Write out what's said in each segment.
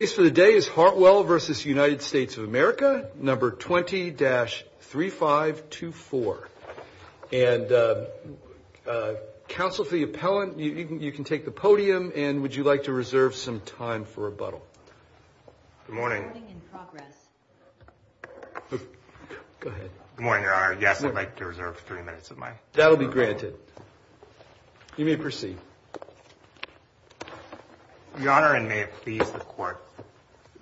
of America, number 20-3524. And counsel to the appellant, you can take the podium, and would you like to reserve some time for rebuttal? Good morning. Good morning, Your Honor. Yes, I'd like to reserve three minutes of my time. That'll be granted. You may proceed. Your Honor, and may it please the Court,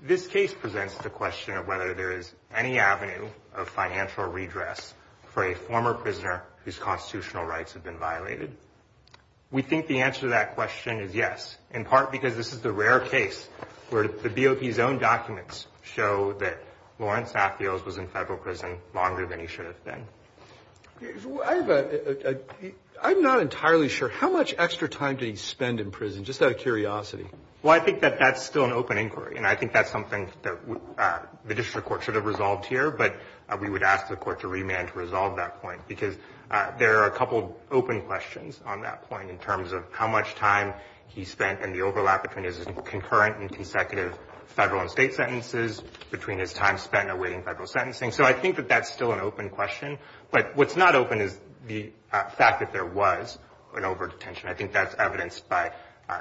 this case presents the question of whether there is any avenue of financial redress for a former prisoner whose constitutional rights have been violated. We think the answer to that question is yes, in part because this is the rare case where the BOP's own documents show that Lawrence Atheos was in federal prison longer than he should have been. I'm not entirely sure. How much extra time did he spend in prison, just out of curiosity? Well, I think that that's still an open inquiry, and I think that's something that the district court should have resolved here. But we would ask the Court to remand to resolve that point because there are a couple open questions on that point in terms of how much time he spent and the overlap between his concurrent and consecutive federal and state sentences, between his time spent awaiting federal sentencing. So I think that that's still an open question, but what's not open is the fact that there was an overdetention. I think that's evidenced by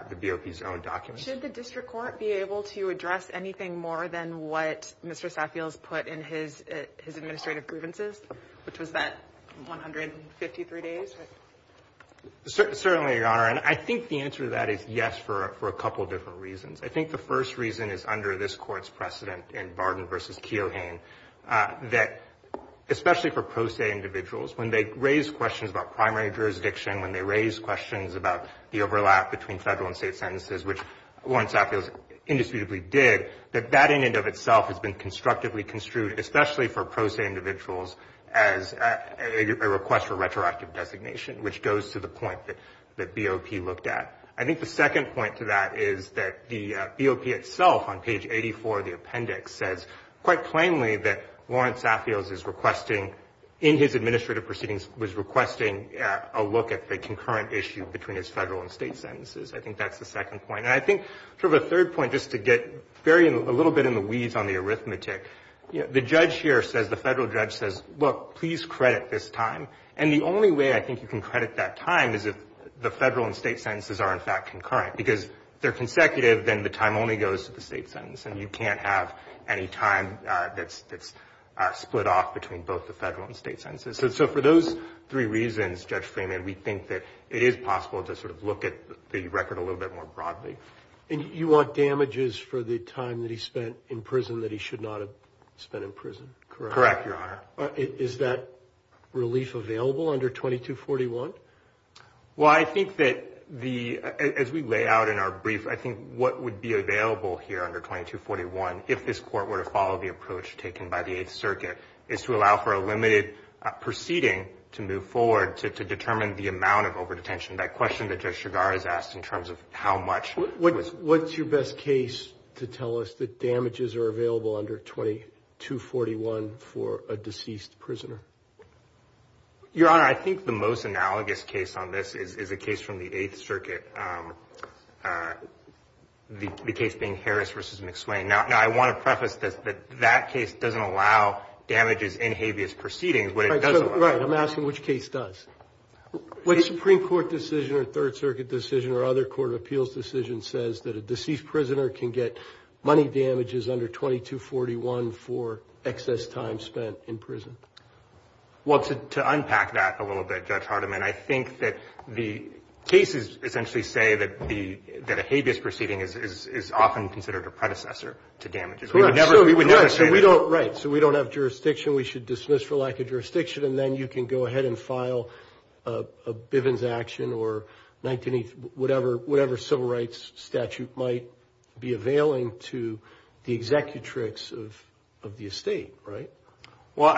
the BOP's own documents. Should the district court be able to address anything more than what Mr. Saffield's put in his administrative grievances, which was that 153 days? Certainly, Your Honor, and I think the answer to that is yes for a couple different reasons. I think the first reason is under this Court's precedent in Barden v. Keohane, that especially for pro se individuals, when they raise questions about primary jurisdiction, when they raise questions about the overlap between federal and state sentences, which Warren Saffield indisputably did, that that in and of itself has been constructively construed, especially for pro se individuals, as a request for retroactive designation, which goes to the point that BOP looked at. I think the second point to that is that the BOP itself, on page 84 of the appendix, says quite plainly that Warren Saffield is requesting, in his administrative proceedings, was requesting a look at the concurrent issue between his federal and state sentences. I think that's the second point. And I think sort of a third point, just to get a little bit in the weeds on the arithmetic, the judge here says, the federal judge says, look, please credit this time. And the only way I think you can credit that time is if the federal and state sentences are, in fact, concurrent. Because if they're consecutive, then the time only goes to the state sentence, and you can't have any time that's split off between both the federal and state sentences. So for those three reasons, Judge Freeman, we think that it is possible to sort of look at the record a little bit more broadly. And you want damages for the time that he spent in prison that he should not have spent in prison, correct? Correct, Your Honor. Is that relief available under 2241? Well, I think that the ‑‑ as we lay out in our brief, I think what would be available here under 2241, if this court were to follow the approach taken by the Eighth Circuit, is to allow for a limited proceeding to move forward to determine the amount of overdetention. That question that Judge Chigar has asked in terms of how much. What's your best case to tell us that damages are available under 2241 for a deceased prisoner? Your Honor, I think the most analogous case on this is a case from the Eighth Circuit, the case being Harris v. McSwain. Now, I want to preface this that that case doesn't allow damages in habeas proceedings, but it does allow ‑‑ Right, I'm asking which case does. What Supreme Court decision or Third Circuit decision or other court of appeals decision says that a deceased prisoner can get money damages under 2241 for excess time spent in prison? Well, to unpack that a little bit, Judge Hardiman, I think that the cases essentially say that a habeas proceeding is often considered a predecessor to damages. We would never say that. Right, so we don't have jurisdiction. We should dismiss for lack of jurisdiction, and then you can go ahead and file a Bivens action or whatever civil rights statute might be availing to the executrix of the estate, right? Well,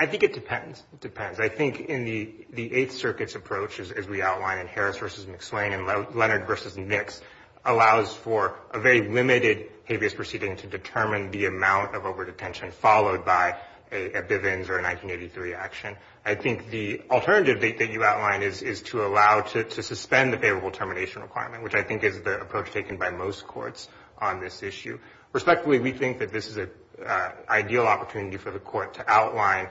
I think it depends. It depends. I think in the Eighth Circuit's approach, as we outlined in Harris v. McSwain and Leonard v. Nix, allows for a very limited habeas proceeding to determine the amount of overdetention followed by a Bivens or a 1983 action. I think the alternative that you outlined is to allow to suspend the favorable termination requirement, which I think is the approach taken by most courts on this issue. Respectfully, we think that this is an ideal opportunity for the Court to outline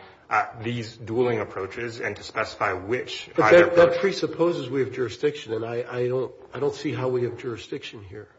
these dueling approaches and to specify which ‑‑ But that presupposes we have jurisdiction, and I don't see how we have jurisdiction here.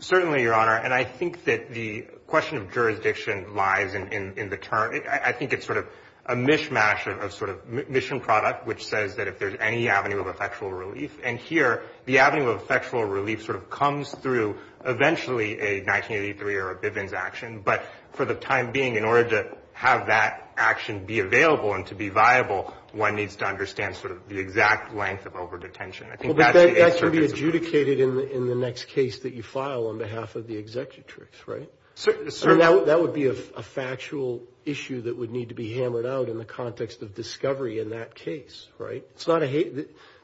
Certainly, Your Honor. And I think that the question of jurisdiction lies in the term. I think it's sort of a mishmash of sort of mission product, which says that if there's any avenue of effectual relief, and here the avenue of effectual relief sort of comes through eventually a 1983 or a Bivens action. But for the time being, in order to have that action be available and to be viable, one needs to understand sort of the exact length of overdetention. Well, but that's going to be adjudicated in the next case that you file on behalf of the executrix, right? Certainly. That would be a factual issue that would need to be hammered out in the context of discovery in that case, right?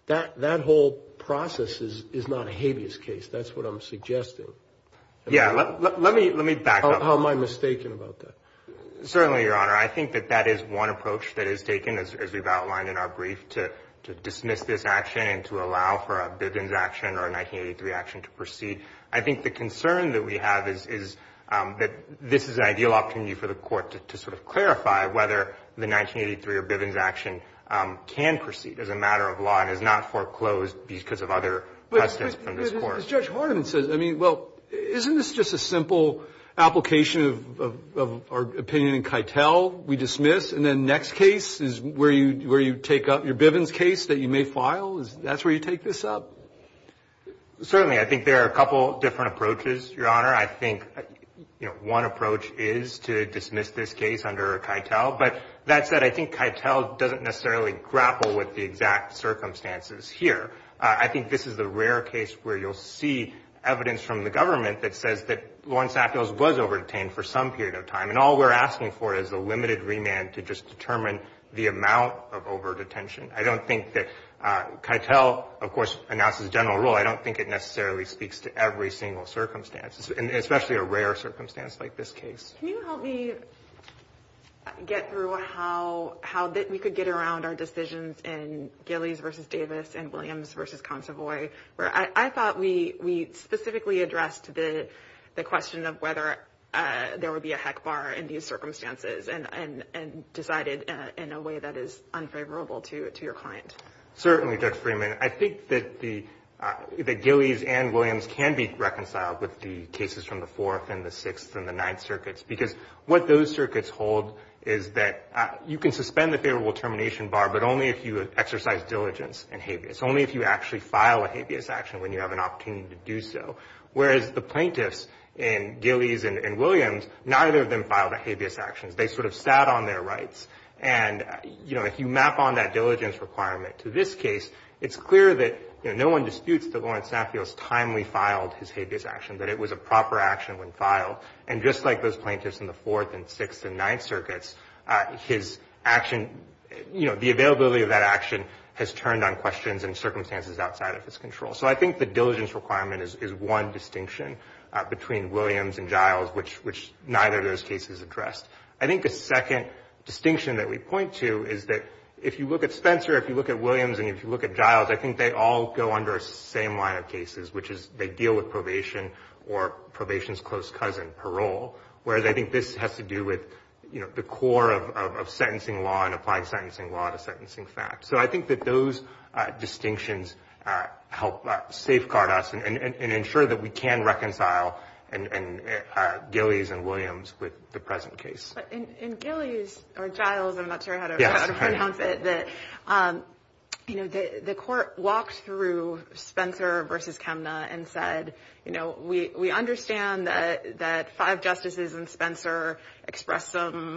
That whole process is not a habeas case. That's what I'm suggesting. Yeah, let me back up. How am I mistaken about that? Certainly, Your Honor. I think that that is one approach that is taken, as we've outlined in our brief, to dismiss this action and to allow for a Bivens action or a 1983 action to proceed. I think the concern that we have is that this is an ideal opportunity for the Court to sort of clarify whether the 1983 or Bivens action can proceed as a matter of law and is not foreclosed because of other precedents from this Court. But as Judge Hardiman says, I mean, well, isn't this just a simple application of our opinion in Keitel, we dismiss, and then the next case is where you take up your Bivens case that you may file? That's where you take this up? Certainly. I think there are a couple different approaches, Your Honor. I think one approach is to dismiss this case under Keitel. But that said, I think Keitel doesn't necessarily grapple with the exact circumstances here. I think this is the rare case where you'll see evidence from the government that says was over-detained for some period of time, and all we're asking for is a limited remand to just determine the amount of over-detention. I don't think that Keitel, of course, announces general rule. I don't think it necessarily speaks to every single circumstance, especially a rare circumstance like this case. Can you help me get through how we could get around our decisions in Gillies v. Davis and Williams v. the question of whether there would be a heck bar in these circumstances and decided in a way that is unfavorable to your client? Certainly, Judge Freeman. I think that the Gillies and Williams can be reconciled with the cases from the Fourth and the Sixth and the Ninth Circuits because what those circuits hold is that you can suspend the favorable termination bar, but only if you exercise diligence and habeas. Only if you actually file a habeas action when you have an opportunity to do so. Whereas the plaintiffs in Gillies and Williams, neither of them filed a habeas action. They sort of sat on their rights. And, you know, if you map on that diligence requirement to this case, it's clear that, you know, no one disputes that Lawrence Safios timely filed his habeas action, that it was a proper action when filed. And just like those plaintiffs in the Fourth and Sixth and Ninth Circuits, his action, you know, the availability of that action has turned on questions and circumstances outside of his control. So I think the diligence requirement is one distinction between Williams and Giles, which neither of those cases addressed. I think the second distinction that we point to is that if you look at Spencer, if you look at Williams, and if you look at Giles, I think they all go under the same line of cases, which is they deal with probation or probation's close cousin, parole. Whereas I think this has to do with, you know, the core of sentencing law and applying sentencing law to sentencing facts. So I think that those distinctions help safeguard us and ensure that we can reconcile Gillies and Williams with the present case. But in Gillies or Giles, I'm not sure how to pronounce it, that, you know, the court walked through Spencer versus Kemna and said, you know, we understand that five justices in Spencer expressed some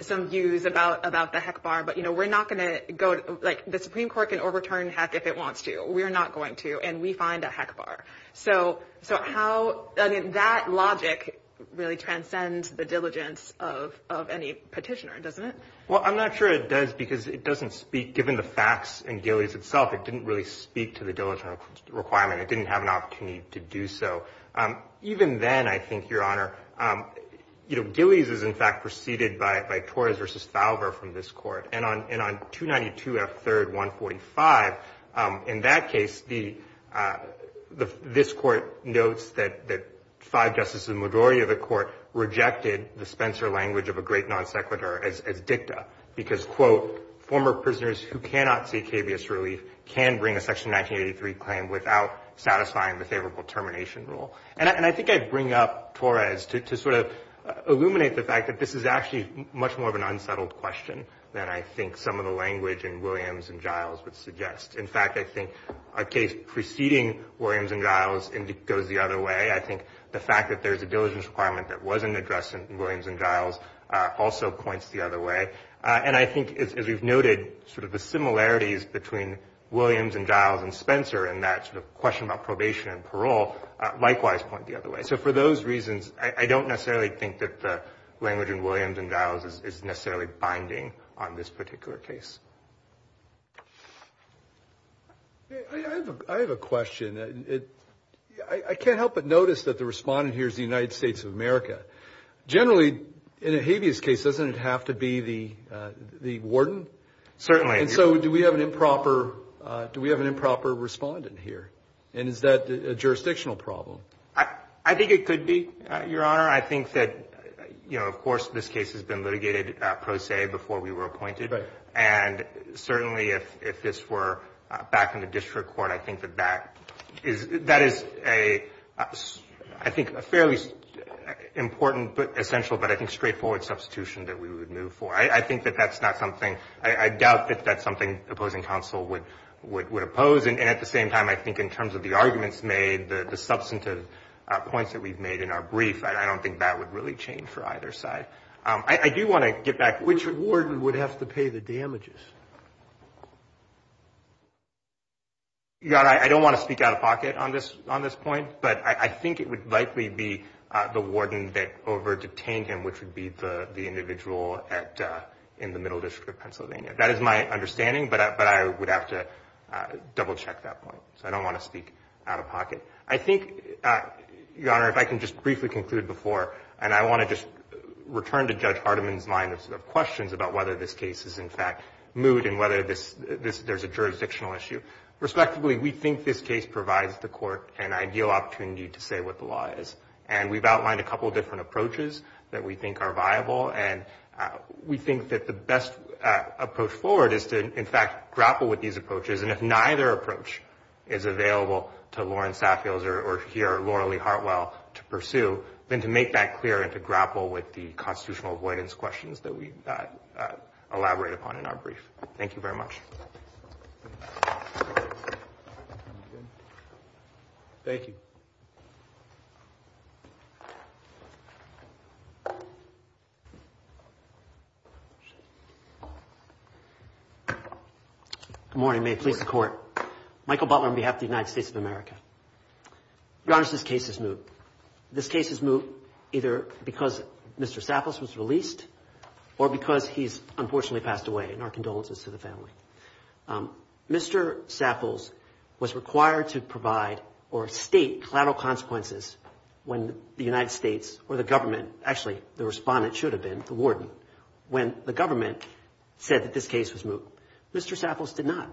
views about the heck bar. But, you know, we're not going to go, like, the Supreme Court can overturn heck if it wants to. We're not going to. And we find a heck bar. So how, I mean, that logic really transcends the diligence of any petitioner, doesn't it? Well, I'm not sure it does because it doesn't speak, given the facts in Gillies itself, it didn't really speak to the diligence requirement. It didn't have an opportunity to do so. Even then, I think, Your Honor, you know, Gillies is, in fact, preceded by Torres versus Thalber from this court. And on 292 F. 3rd 145, in that case, this court notes that five justices, the majority of the court, rejected the Spencer language of a great non sequitur as dicta because, quote, former prisoners who cannot seek habeas relief can bring a Section 1983 claim without satisfying the favorable termination rule. And I think I'd bring up Torres to sort of illuminate the fact that this is actually much more of an unsettled question than I think some of the language in Williams and Giles would suggest. In fact, I think a case preceding Williams and Giles goes the other way. I think the fact that there's a diligence requirement that wasn't addressed in Williams and Giles also points the other way. And I think, as we've noted, sort of the similarities between Williams and Giles and the question about probation and parole likewise point the other way. So for those reasons, I don't necessarily think that the language in Williams and Giles is necessarily binding on this particular case. I have a question. I can't help but notice that the respondent here is the United States of America. Generally, in a habeas case, doesn't it have to be the warden? Certainly. And so do we have an improper respondent here? And is that a jurisdictional problem? I think it could be, Your Honor. I think that, you know, of course this case has been litigated pro se before we were appointed. Right. And certainly if this were back in the district court, I think that that is a fairly important but essential but I think straightforward substitution that we would move for. I think that that's not something – I doubt that that's something opposing counsel would oppose. And at the same time, I think in terms of the arguments made, the substantive points that we've made in our brief, I don't think that would really change for either side. I do want to get back – Which warden would have to pay the damages? Your Honor, I don't want to speak out of pocket on this point, but I think it would likely be the warden that over-detained him, which would be the individual in the Middle District of Pennsylvania. That is my understanding, but I would have to double-check that point. So I don't want to speak out of pocket. I think, Your Honor, if I can just briefly conclude before – and I want to just return to Judge Hardiman's line of questions about whether this case is in fact moot and whether there's a jurisdictional issue. Respectively, we think this case provides the Court an ideal opportunity to say what the law is. And we've outlined a couple of different approaches that we think are viable. And we think that the best approach forward is to, in fact, grapple with these approaches. And if neither approach is available to Lauren Saffield or here, Laura Lee Hartwell, to pursue, then to make that clear and to grapple with the constitutional avoidance questions that we elaborate upon in our brief. Thank you very much. Thank you. Thank you. Good morning. May it please the Court. Michael Butler on behalf of the United States of America. Your Honor, this case is moot. This case is moot either because Mr. Sapples was released or because he's unfortunately passed away, and our condolences to the family. Mr. Sapples was required to provide or state collateral consequences when the United States or the government, actually the respondent should have been, the warden, when the government said that this case was moot. Mr. Sapples did not.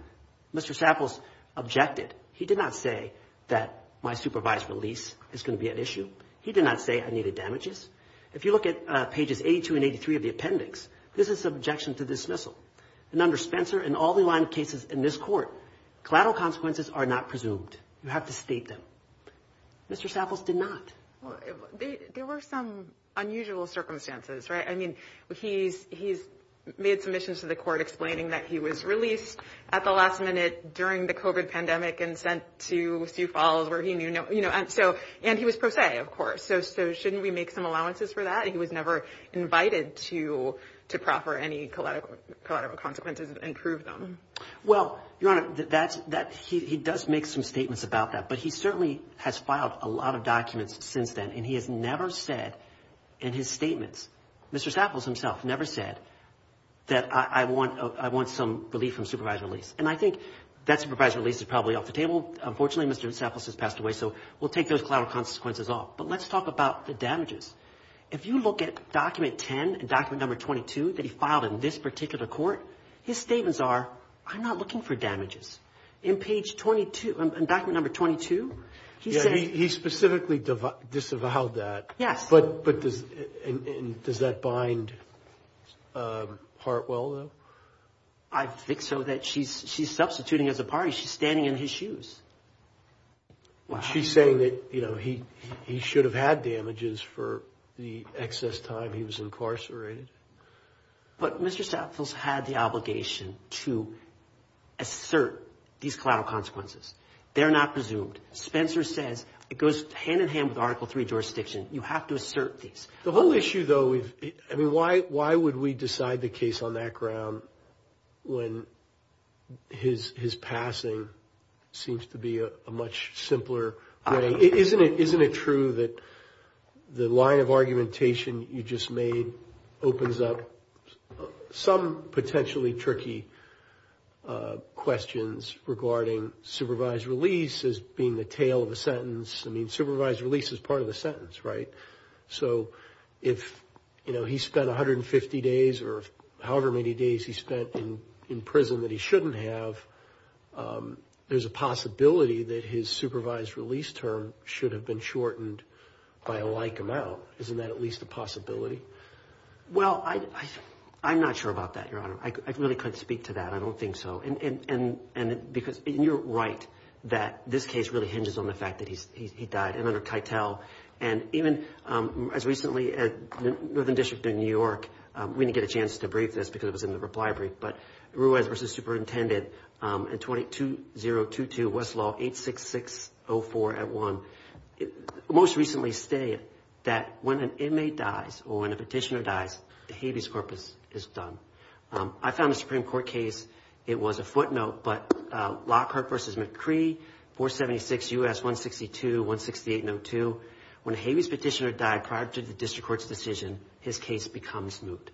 Mr. Sapples objected. He did not say that my supervised release is going to be an issue. He did not say I needed damages. If you look at pages 82 and 83 of the appendix, this is an objection to dismissal. And under Spencer and all the line of cases in this court, collateral consequences are not presumed. You have to state them. Mr. Sapples did not. There were some unusual circumstances, right? I mean, he's made submissions to the court explaining that he was released at the last minute during the COVID pandemic and sent to Sioux Falls where he knew no, you know, and so, and he was pro se, of course. So shouldn't we make some allowances for that? He was never invited to proffer any collateral consequences and prove them. Well, Your Honor, he does make some statements about that. But he certainly has filed a lot of documents since then and he has never said in his statements, Mr. Sapples himself never said that I want some relief from supervised release. And I think that supervised release is probably off the table. Unfortunately, Mr. Sapples has passed away. So we'll take those collateral consequences off. But let's talk about the damages. If you look at document 10 and document number 22 that he filed in this particular court, his statements are, I'm not looking for damages. In page 22, in document number 22, he said. He specifically disavowed that. Yes. But does that bind Hartwell, though? I think so, that she's substituting as a party. She's standing in his shoes. She's saying that, you know, he should have had damages for the excess time he was incarcerated. But Mr. Sapples had the obligation to assert these collateral consequences. They're not presumed. Spencer says it goes hand in hand with Article III jurisdiction. You have to assert these. The whole issue, though, I mean, why would we decide the case on that ground when his passing seems to be a much simpler way? Isn't it true that the line of argumentation you just made opens up some potentially tricky questions regarding supervised release as being the tail of a sentence? I mean, supervised release is part of the sentence, right? So if, you know, he spent 150 days or however many days he spent in prison that he there's a possibility that his supervised release term should have been shortened by a like amount. Isn't that at least a possibility? Well, I'm not sure about that, Your Honor. I really couldn't speak to that. I don't think so. And because you're right that this case really hinges on the fact that he died under Tytel. And even as recently as Northern District in New York, we didn't get a chance to Westlaw 866-04-81. Most recently stated that when an inmate dies or when a petitioner dies, the habeas corpus is done. I found a Supreme Court case. It was a footnote. But Lockhart v. McCree, 476 U.S. 162-168-02. When a habeas petitioner died prior to the district court's decision, his case becomes moot.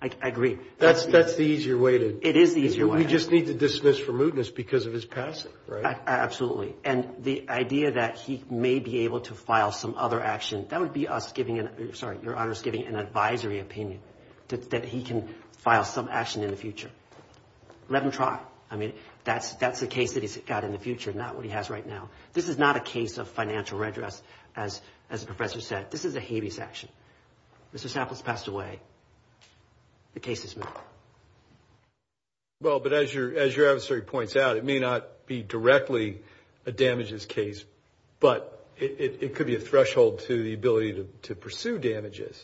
I agree. That's the easier way to. It is the easier way. You just need to dismiss for mootness because of his passing, right? Absolutely. And the idea that he may be able to file some other action, that would be us giving, sorry, Your Honor, us giving an advisory opinion that he can file some action in the future. Let him try. I mean, that's the case that he's got in the future, not what he has right now. This is not a case of financial redress, as the professor said. This is a habeas action. Mr. Sapples passed away. The case is moot. Well, but as your adversary points out, it may not be directly a damages case, but it could be a threshold to the ability to pursue damages.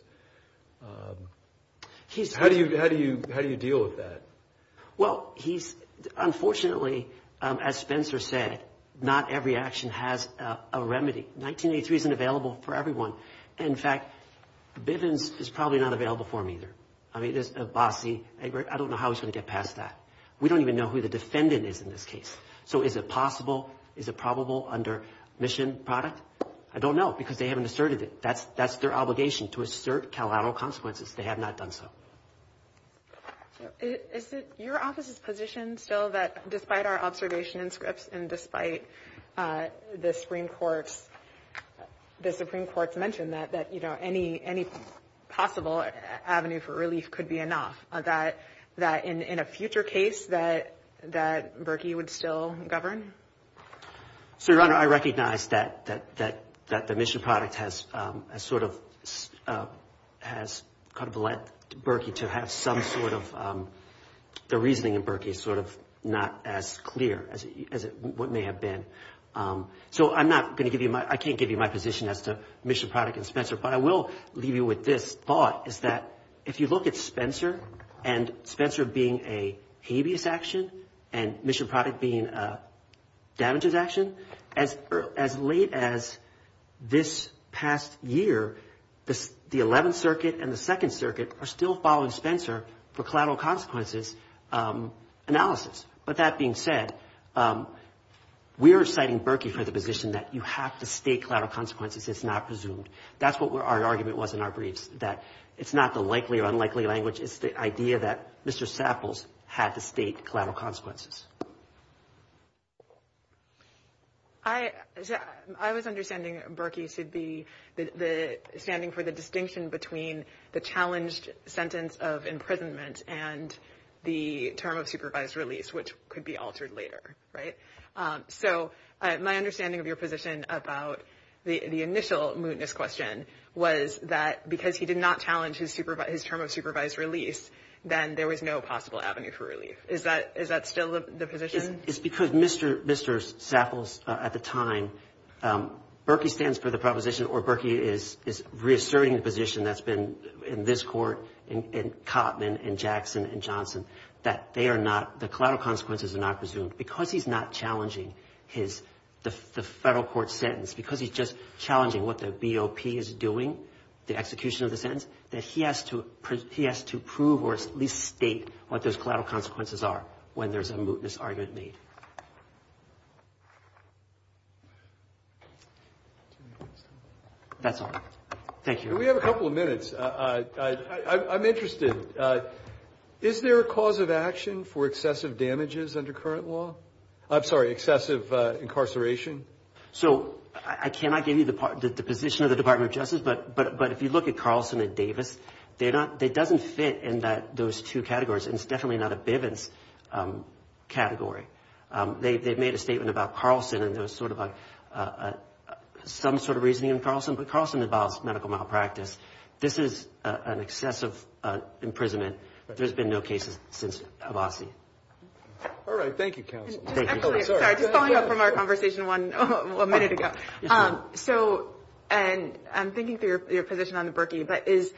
How do you deal with that? Well, he's, unfortunately, as Spencer said, not every action has a remedy. 1983 isn't available for everyone. In fact, Bivens is probably not available for him either. I mean, there's a bossy. I don't know how he's going to get past that. We don't even know who the defendant is in this case. So is it possible? Is it probable under mission product? I don't know because they haven't asserted it. That's their obligation, to assert collateral consequences. They have not done so. Is it your office's position still that despite our observation in Scripps and despite the relief could be enough, that in a future case that Berkey would still govern? So, Your Honor, I recognize that the mission product has sort of led Berkey to have some sort of, the reasoning in Berkey is sort of not as clear as it may have been. So I'm not going to give you my, I can't give you my position as to mission product and look at Spencer and Spencer being a habeas action and mission product being a damages action. As late as this past year, the 11th Circuit and the 2nd Circuit are still following Spencer for collateral consequences analysis. But that being said, we are citing Berkey for the position that you have to state collateral consequences. It's not presumed. That's what our argument was in our briefs, that it's not the likely or unlikely language. It's the idea that Mr. Sapples had to state collateral consequences. I was understanding Berkey should be standing for the distinction between the challenged sentence of imprisonment and the term of supervised release, which could be altered later, right? So my understanding of your position about the initial mootness question was that because he did not challenge his term of supervised release, then there was no possible avenue for relief. Is that still the position? It's because Mr. Sapples at the time, Berkey stands for the proposition, or Berkey is reasserting the position that's been in this court, in Cotman and Jackson and Johnson, that they are not, the collateral consequences are not presumed. Because he's not challenging the federal court sentence, because he's just challenging what the BOP is doing, the execution of the sentence, that he has to prove or at least state what those collateral consequences are when there's a mootness argument made. That's all. Thank you. We have a couple of minutes. I'm interested. Is there a cause of action for excessive damages under current law? I'm sorry, excessive incarceration? So I cannot give you the position of the Department of Justice, but if you look at Carlson and Davis, they're not, it doesn't fit in those two categories, and it's definitely not a Bivens category. They've made a statement about Carlson, and there's sort of a, some sort of reasoning in Carlson, but Carlson involves medical malpractice. This is an excessive imprisonment. There's been no cases since Havasi. All right. Thank you, counsel. I'm sorry. Just following up from our conversation one minute ago. So, and I'm thinking through your position on the Berkey, but is,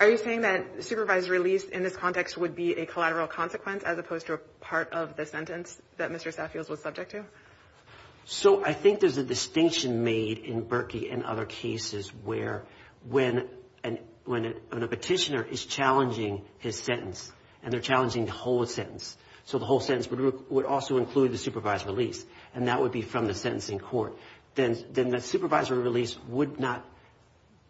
are you saying that supervised release in this context would be a collateral consequence as opposed to a part of the sentence that Mr. Saffield was subject to? So I think there's a distinction made in Berkey and other cases where when, when a petitioner is challenging his sentence, and they're challenging the whole sentence, so the whole sentence would also include the supervised release, and that would be from the sentencing court, then the supervisory release would not,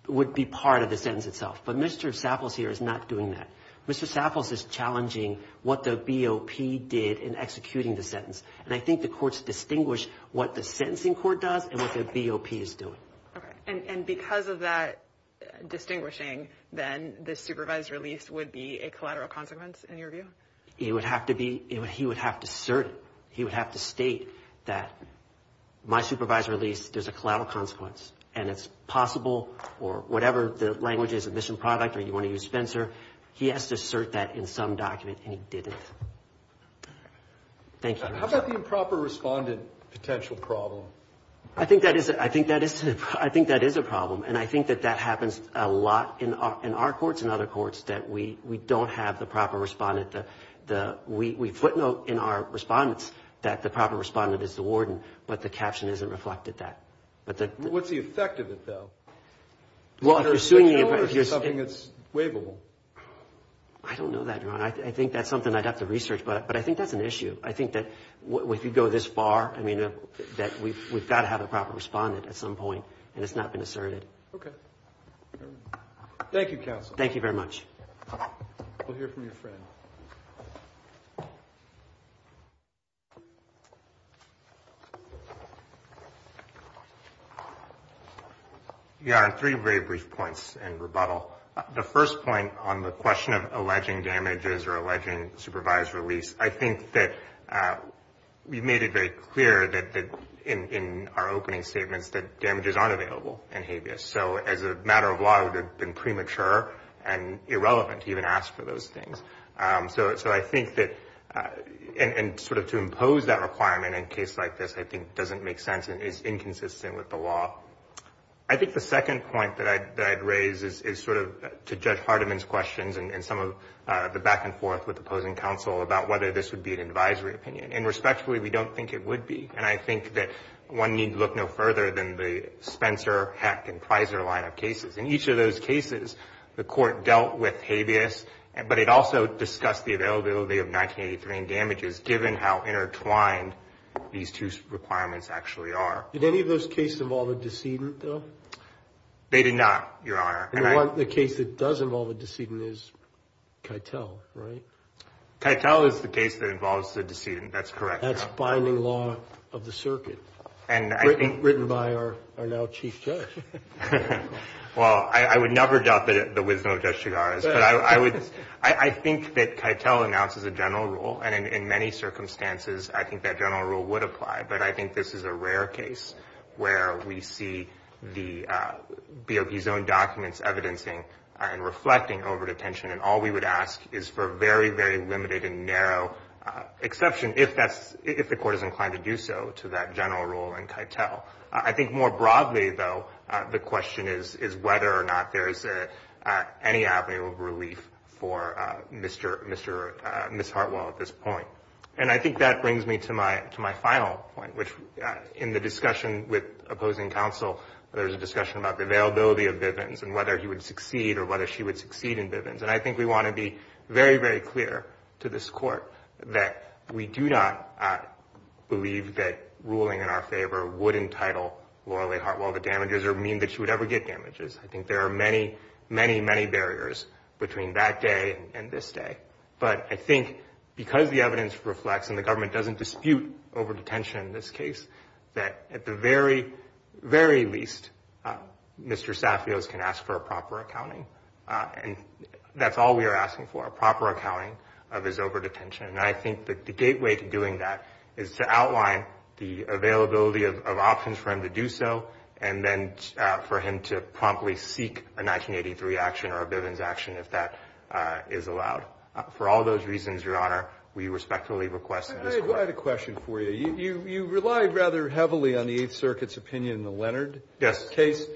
would be part of the sentence itself. But Mr. Saffield here is not doing that. Mr. Saffield is challenging what the BOP did in executing the sentence, and I think the question is to distinguish what the sentencing court does and what the BOP is doing. Okay. And because of that distinguishing, then the supervised release would be a collateral consequence in your view? It would have to be, he would have to assert it. He would have to state that my supervised release, there's a collateral consequence, and it's possible, or whatever the language is, a mission product, or you want to use Spencer, he has to assert that in some document, and he didn't. Thank you. How about the improper respondent potential problem? I think that is, I think that is, I think that is a problem, and I think that that happens a lot in our courts and other courts, that we don't have the proper respondent, the, we footnote in our respondents that the proper respondent is the warden, but the caption isn't reflected that. What's the effect of it, though? Well, if you're suing the, if you're, Is it something that's waivable? I don't know that, Your Honor. I think that's something I'd have to research, but I think that's an issue. I think that if you go this far, I mean, that we've got to have a proper respondent at some point, and it's not been asserted. Okay. Thank you, counsel. Thank you very much. We'll hear from your friend. Your Honor, three very brief points in rebuttal. The first point on the question of alleging damages or alleging supervised release, I think that you made it very clear that in our opening statements that damages aren't available in habeas, so as a matter of law, it would have been premature and irrelevant to even ask for those things. So I think that, and sort of to impose that requirement in a case like this, I think, doesn't make sense and is inconsistent with the law. I think the second point that I'd raise is sort of to Judge Hardiman's questions and some of the back-and-forth with opposing counsel about whether this would be an advisory opinion. And respectfully, we don't think it would be, and I think that one need look no further than the Spencer, Hecht, and Pizer line of cases. In each of those cases, the Court dealt with habeas, but it also discussed the availability of 1983 in damages, given how intertwined these two requirements actually are. Did any of those cases involve a decedent, though? They did not, Your Honor. And the case that does involve a decedent is Keitel, right? Keitel is the case that involves the decedent. That's correct, Your Honor. That's binding law of the circuit, written by our now Chief Judge. Well, I would never doubt the wisdom of Judge Chigars, but I think that Keitel announces a general rule, and in many circumstances, I think that general rule would apply. But I think this is a rare case where we see the BOP's own documents evidencing and reflecting overt attention, and all we would ask is for very, very limited and narrow exception, if the Court is inclined to do so, to that general rule in Keitel. I think more broadly, though, the question is whether or not there is any avenue of relief for Ms. Hartwell at this point. And I think that brings me to my final point, which in the discussion with opposing counsel, there was a discussion about the availability of Bivens and whether he would succeed or whether she would succeed in Bivens. And I think we want to be very, very clear to this Court that we do not believe that ruling in our favor would entitle Laura Lee Hartwell to damages or mean that she would ever get damages. I think there are many, many, many barriers between that day and this day. But I think because the evidence reflects and the government doesn't dispute over-detention in this case, that at the very, very least, Mr. Safios can ask for a proper accounting. And that's all we are asking for, a proper accounting of his over-detention. And I think the gateway to doing that is to outline the availability of options for him to do so and then for him to promptly seek a 1983 action or a Bivens action if that is allowed. For all those reasons, Your Honor, we respectfully request that this Court. I have a question for you. You rely rather heavily on the Eighth Circuit's opinion in the Leonard case. Yes.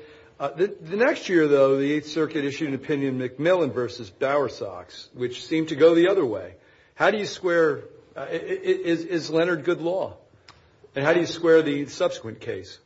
The next year, though, the Eighth Circuit issued an opinion, McMillan v. Bowersox, which seemed to go the other way. How do you square – is Leonard good law? And how do you square the subsequent case?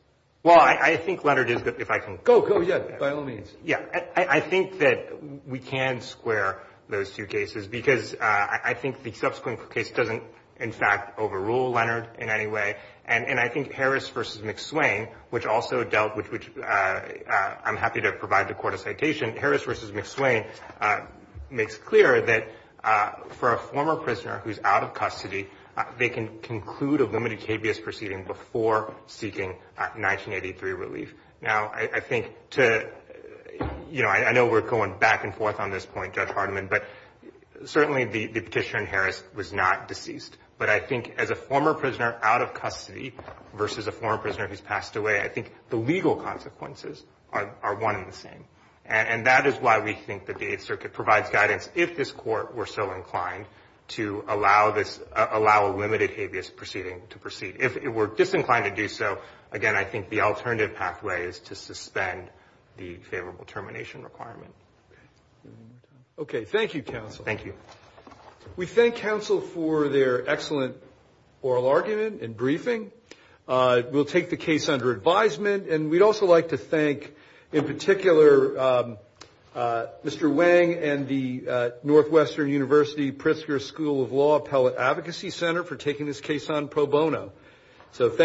Well, I think Leonard is good, if I can – Go, go, yeah, by all means. Yeah, I think that we can square those two cases because I think the subsequent case doesn't, in fact, overrule Leonard in any way. And I think Harris v. McSwain, which also dealt with – which I'm happy to provide the Court a citation – Harris v. McSwain makes clear that for a former prisoner who's out of custody, they can conclude a limited cabious proceeding before seeking 1983 relief. Now, I think to – I know we're going back and forth on this point, Judge Hardiman, but certainly the petition in Harris was not deceased. But I think as a former prisoner out of custody versus a former prisoner who's passed away, I think the legal consequences are one and the same. And that is why we think that the Eighth Circuit provides guidance, if this Court were so inclined, to allow this – allow a limited cabious proceeding to proceed. If it were disinclined to do so, again, I think the alternative pathway is to suspend the favorable termination requirement. Okay. Thank you, counsel. Thank you. We thank counsel for their excellent oral argument and briefing. We'll take the case under advisement. And we'd also like to thank, in particular, Mr. Wang and the Northwestern University Pritzker School of Law Appellate Advocacy Center for taking this case on pro bono. So thank you.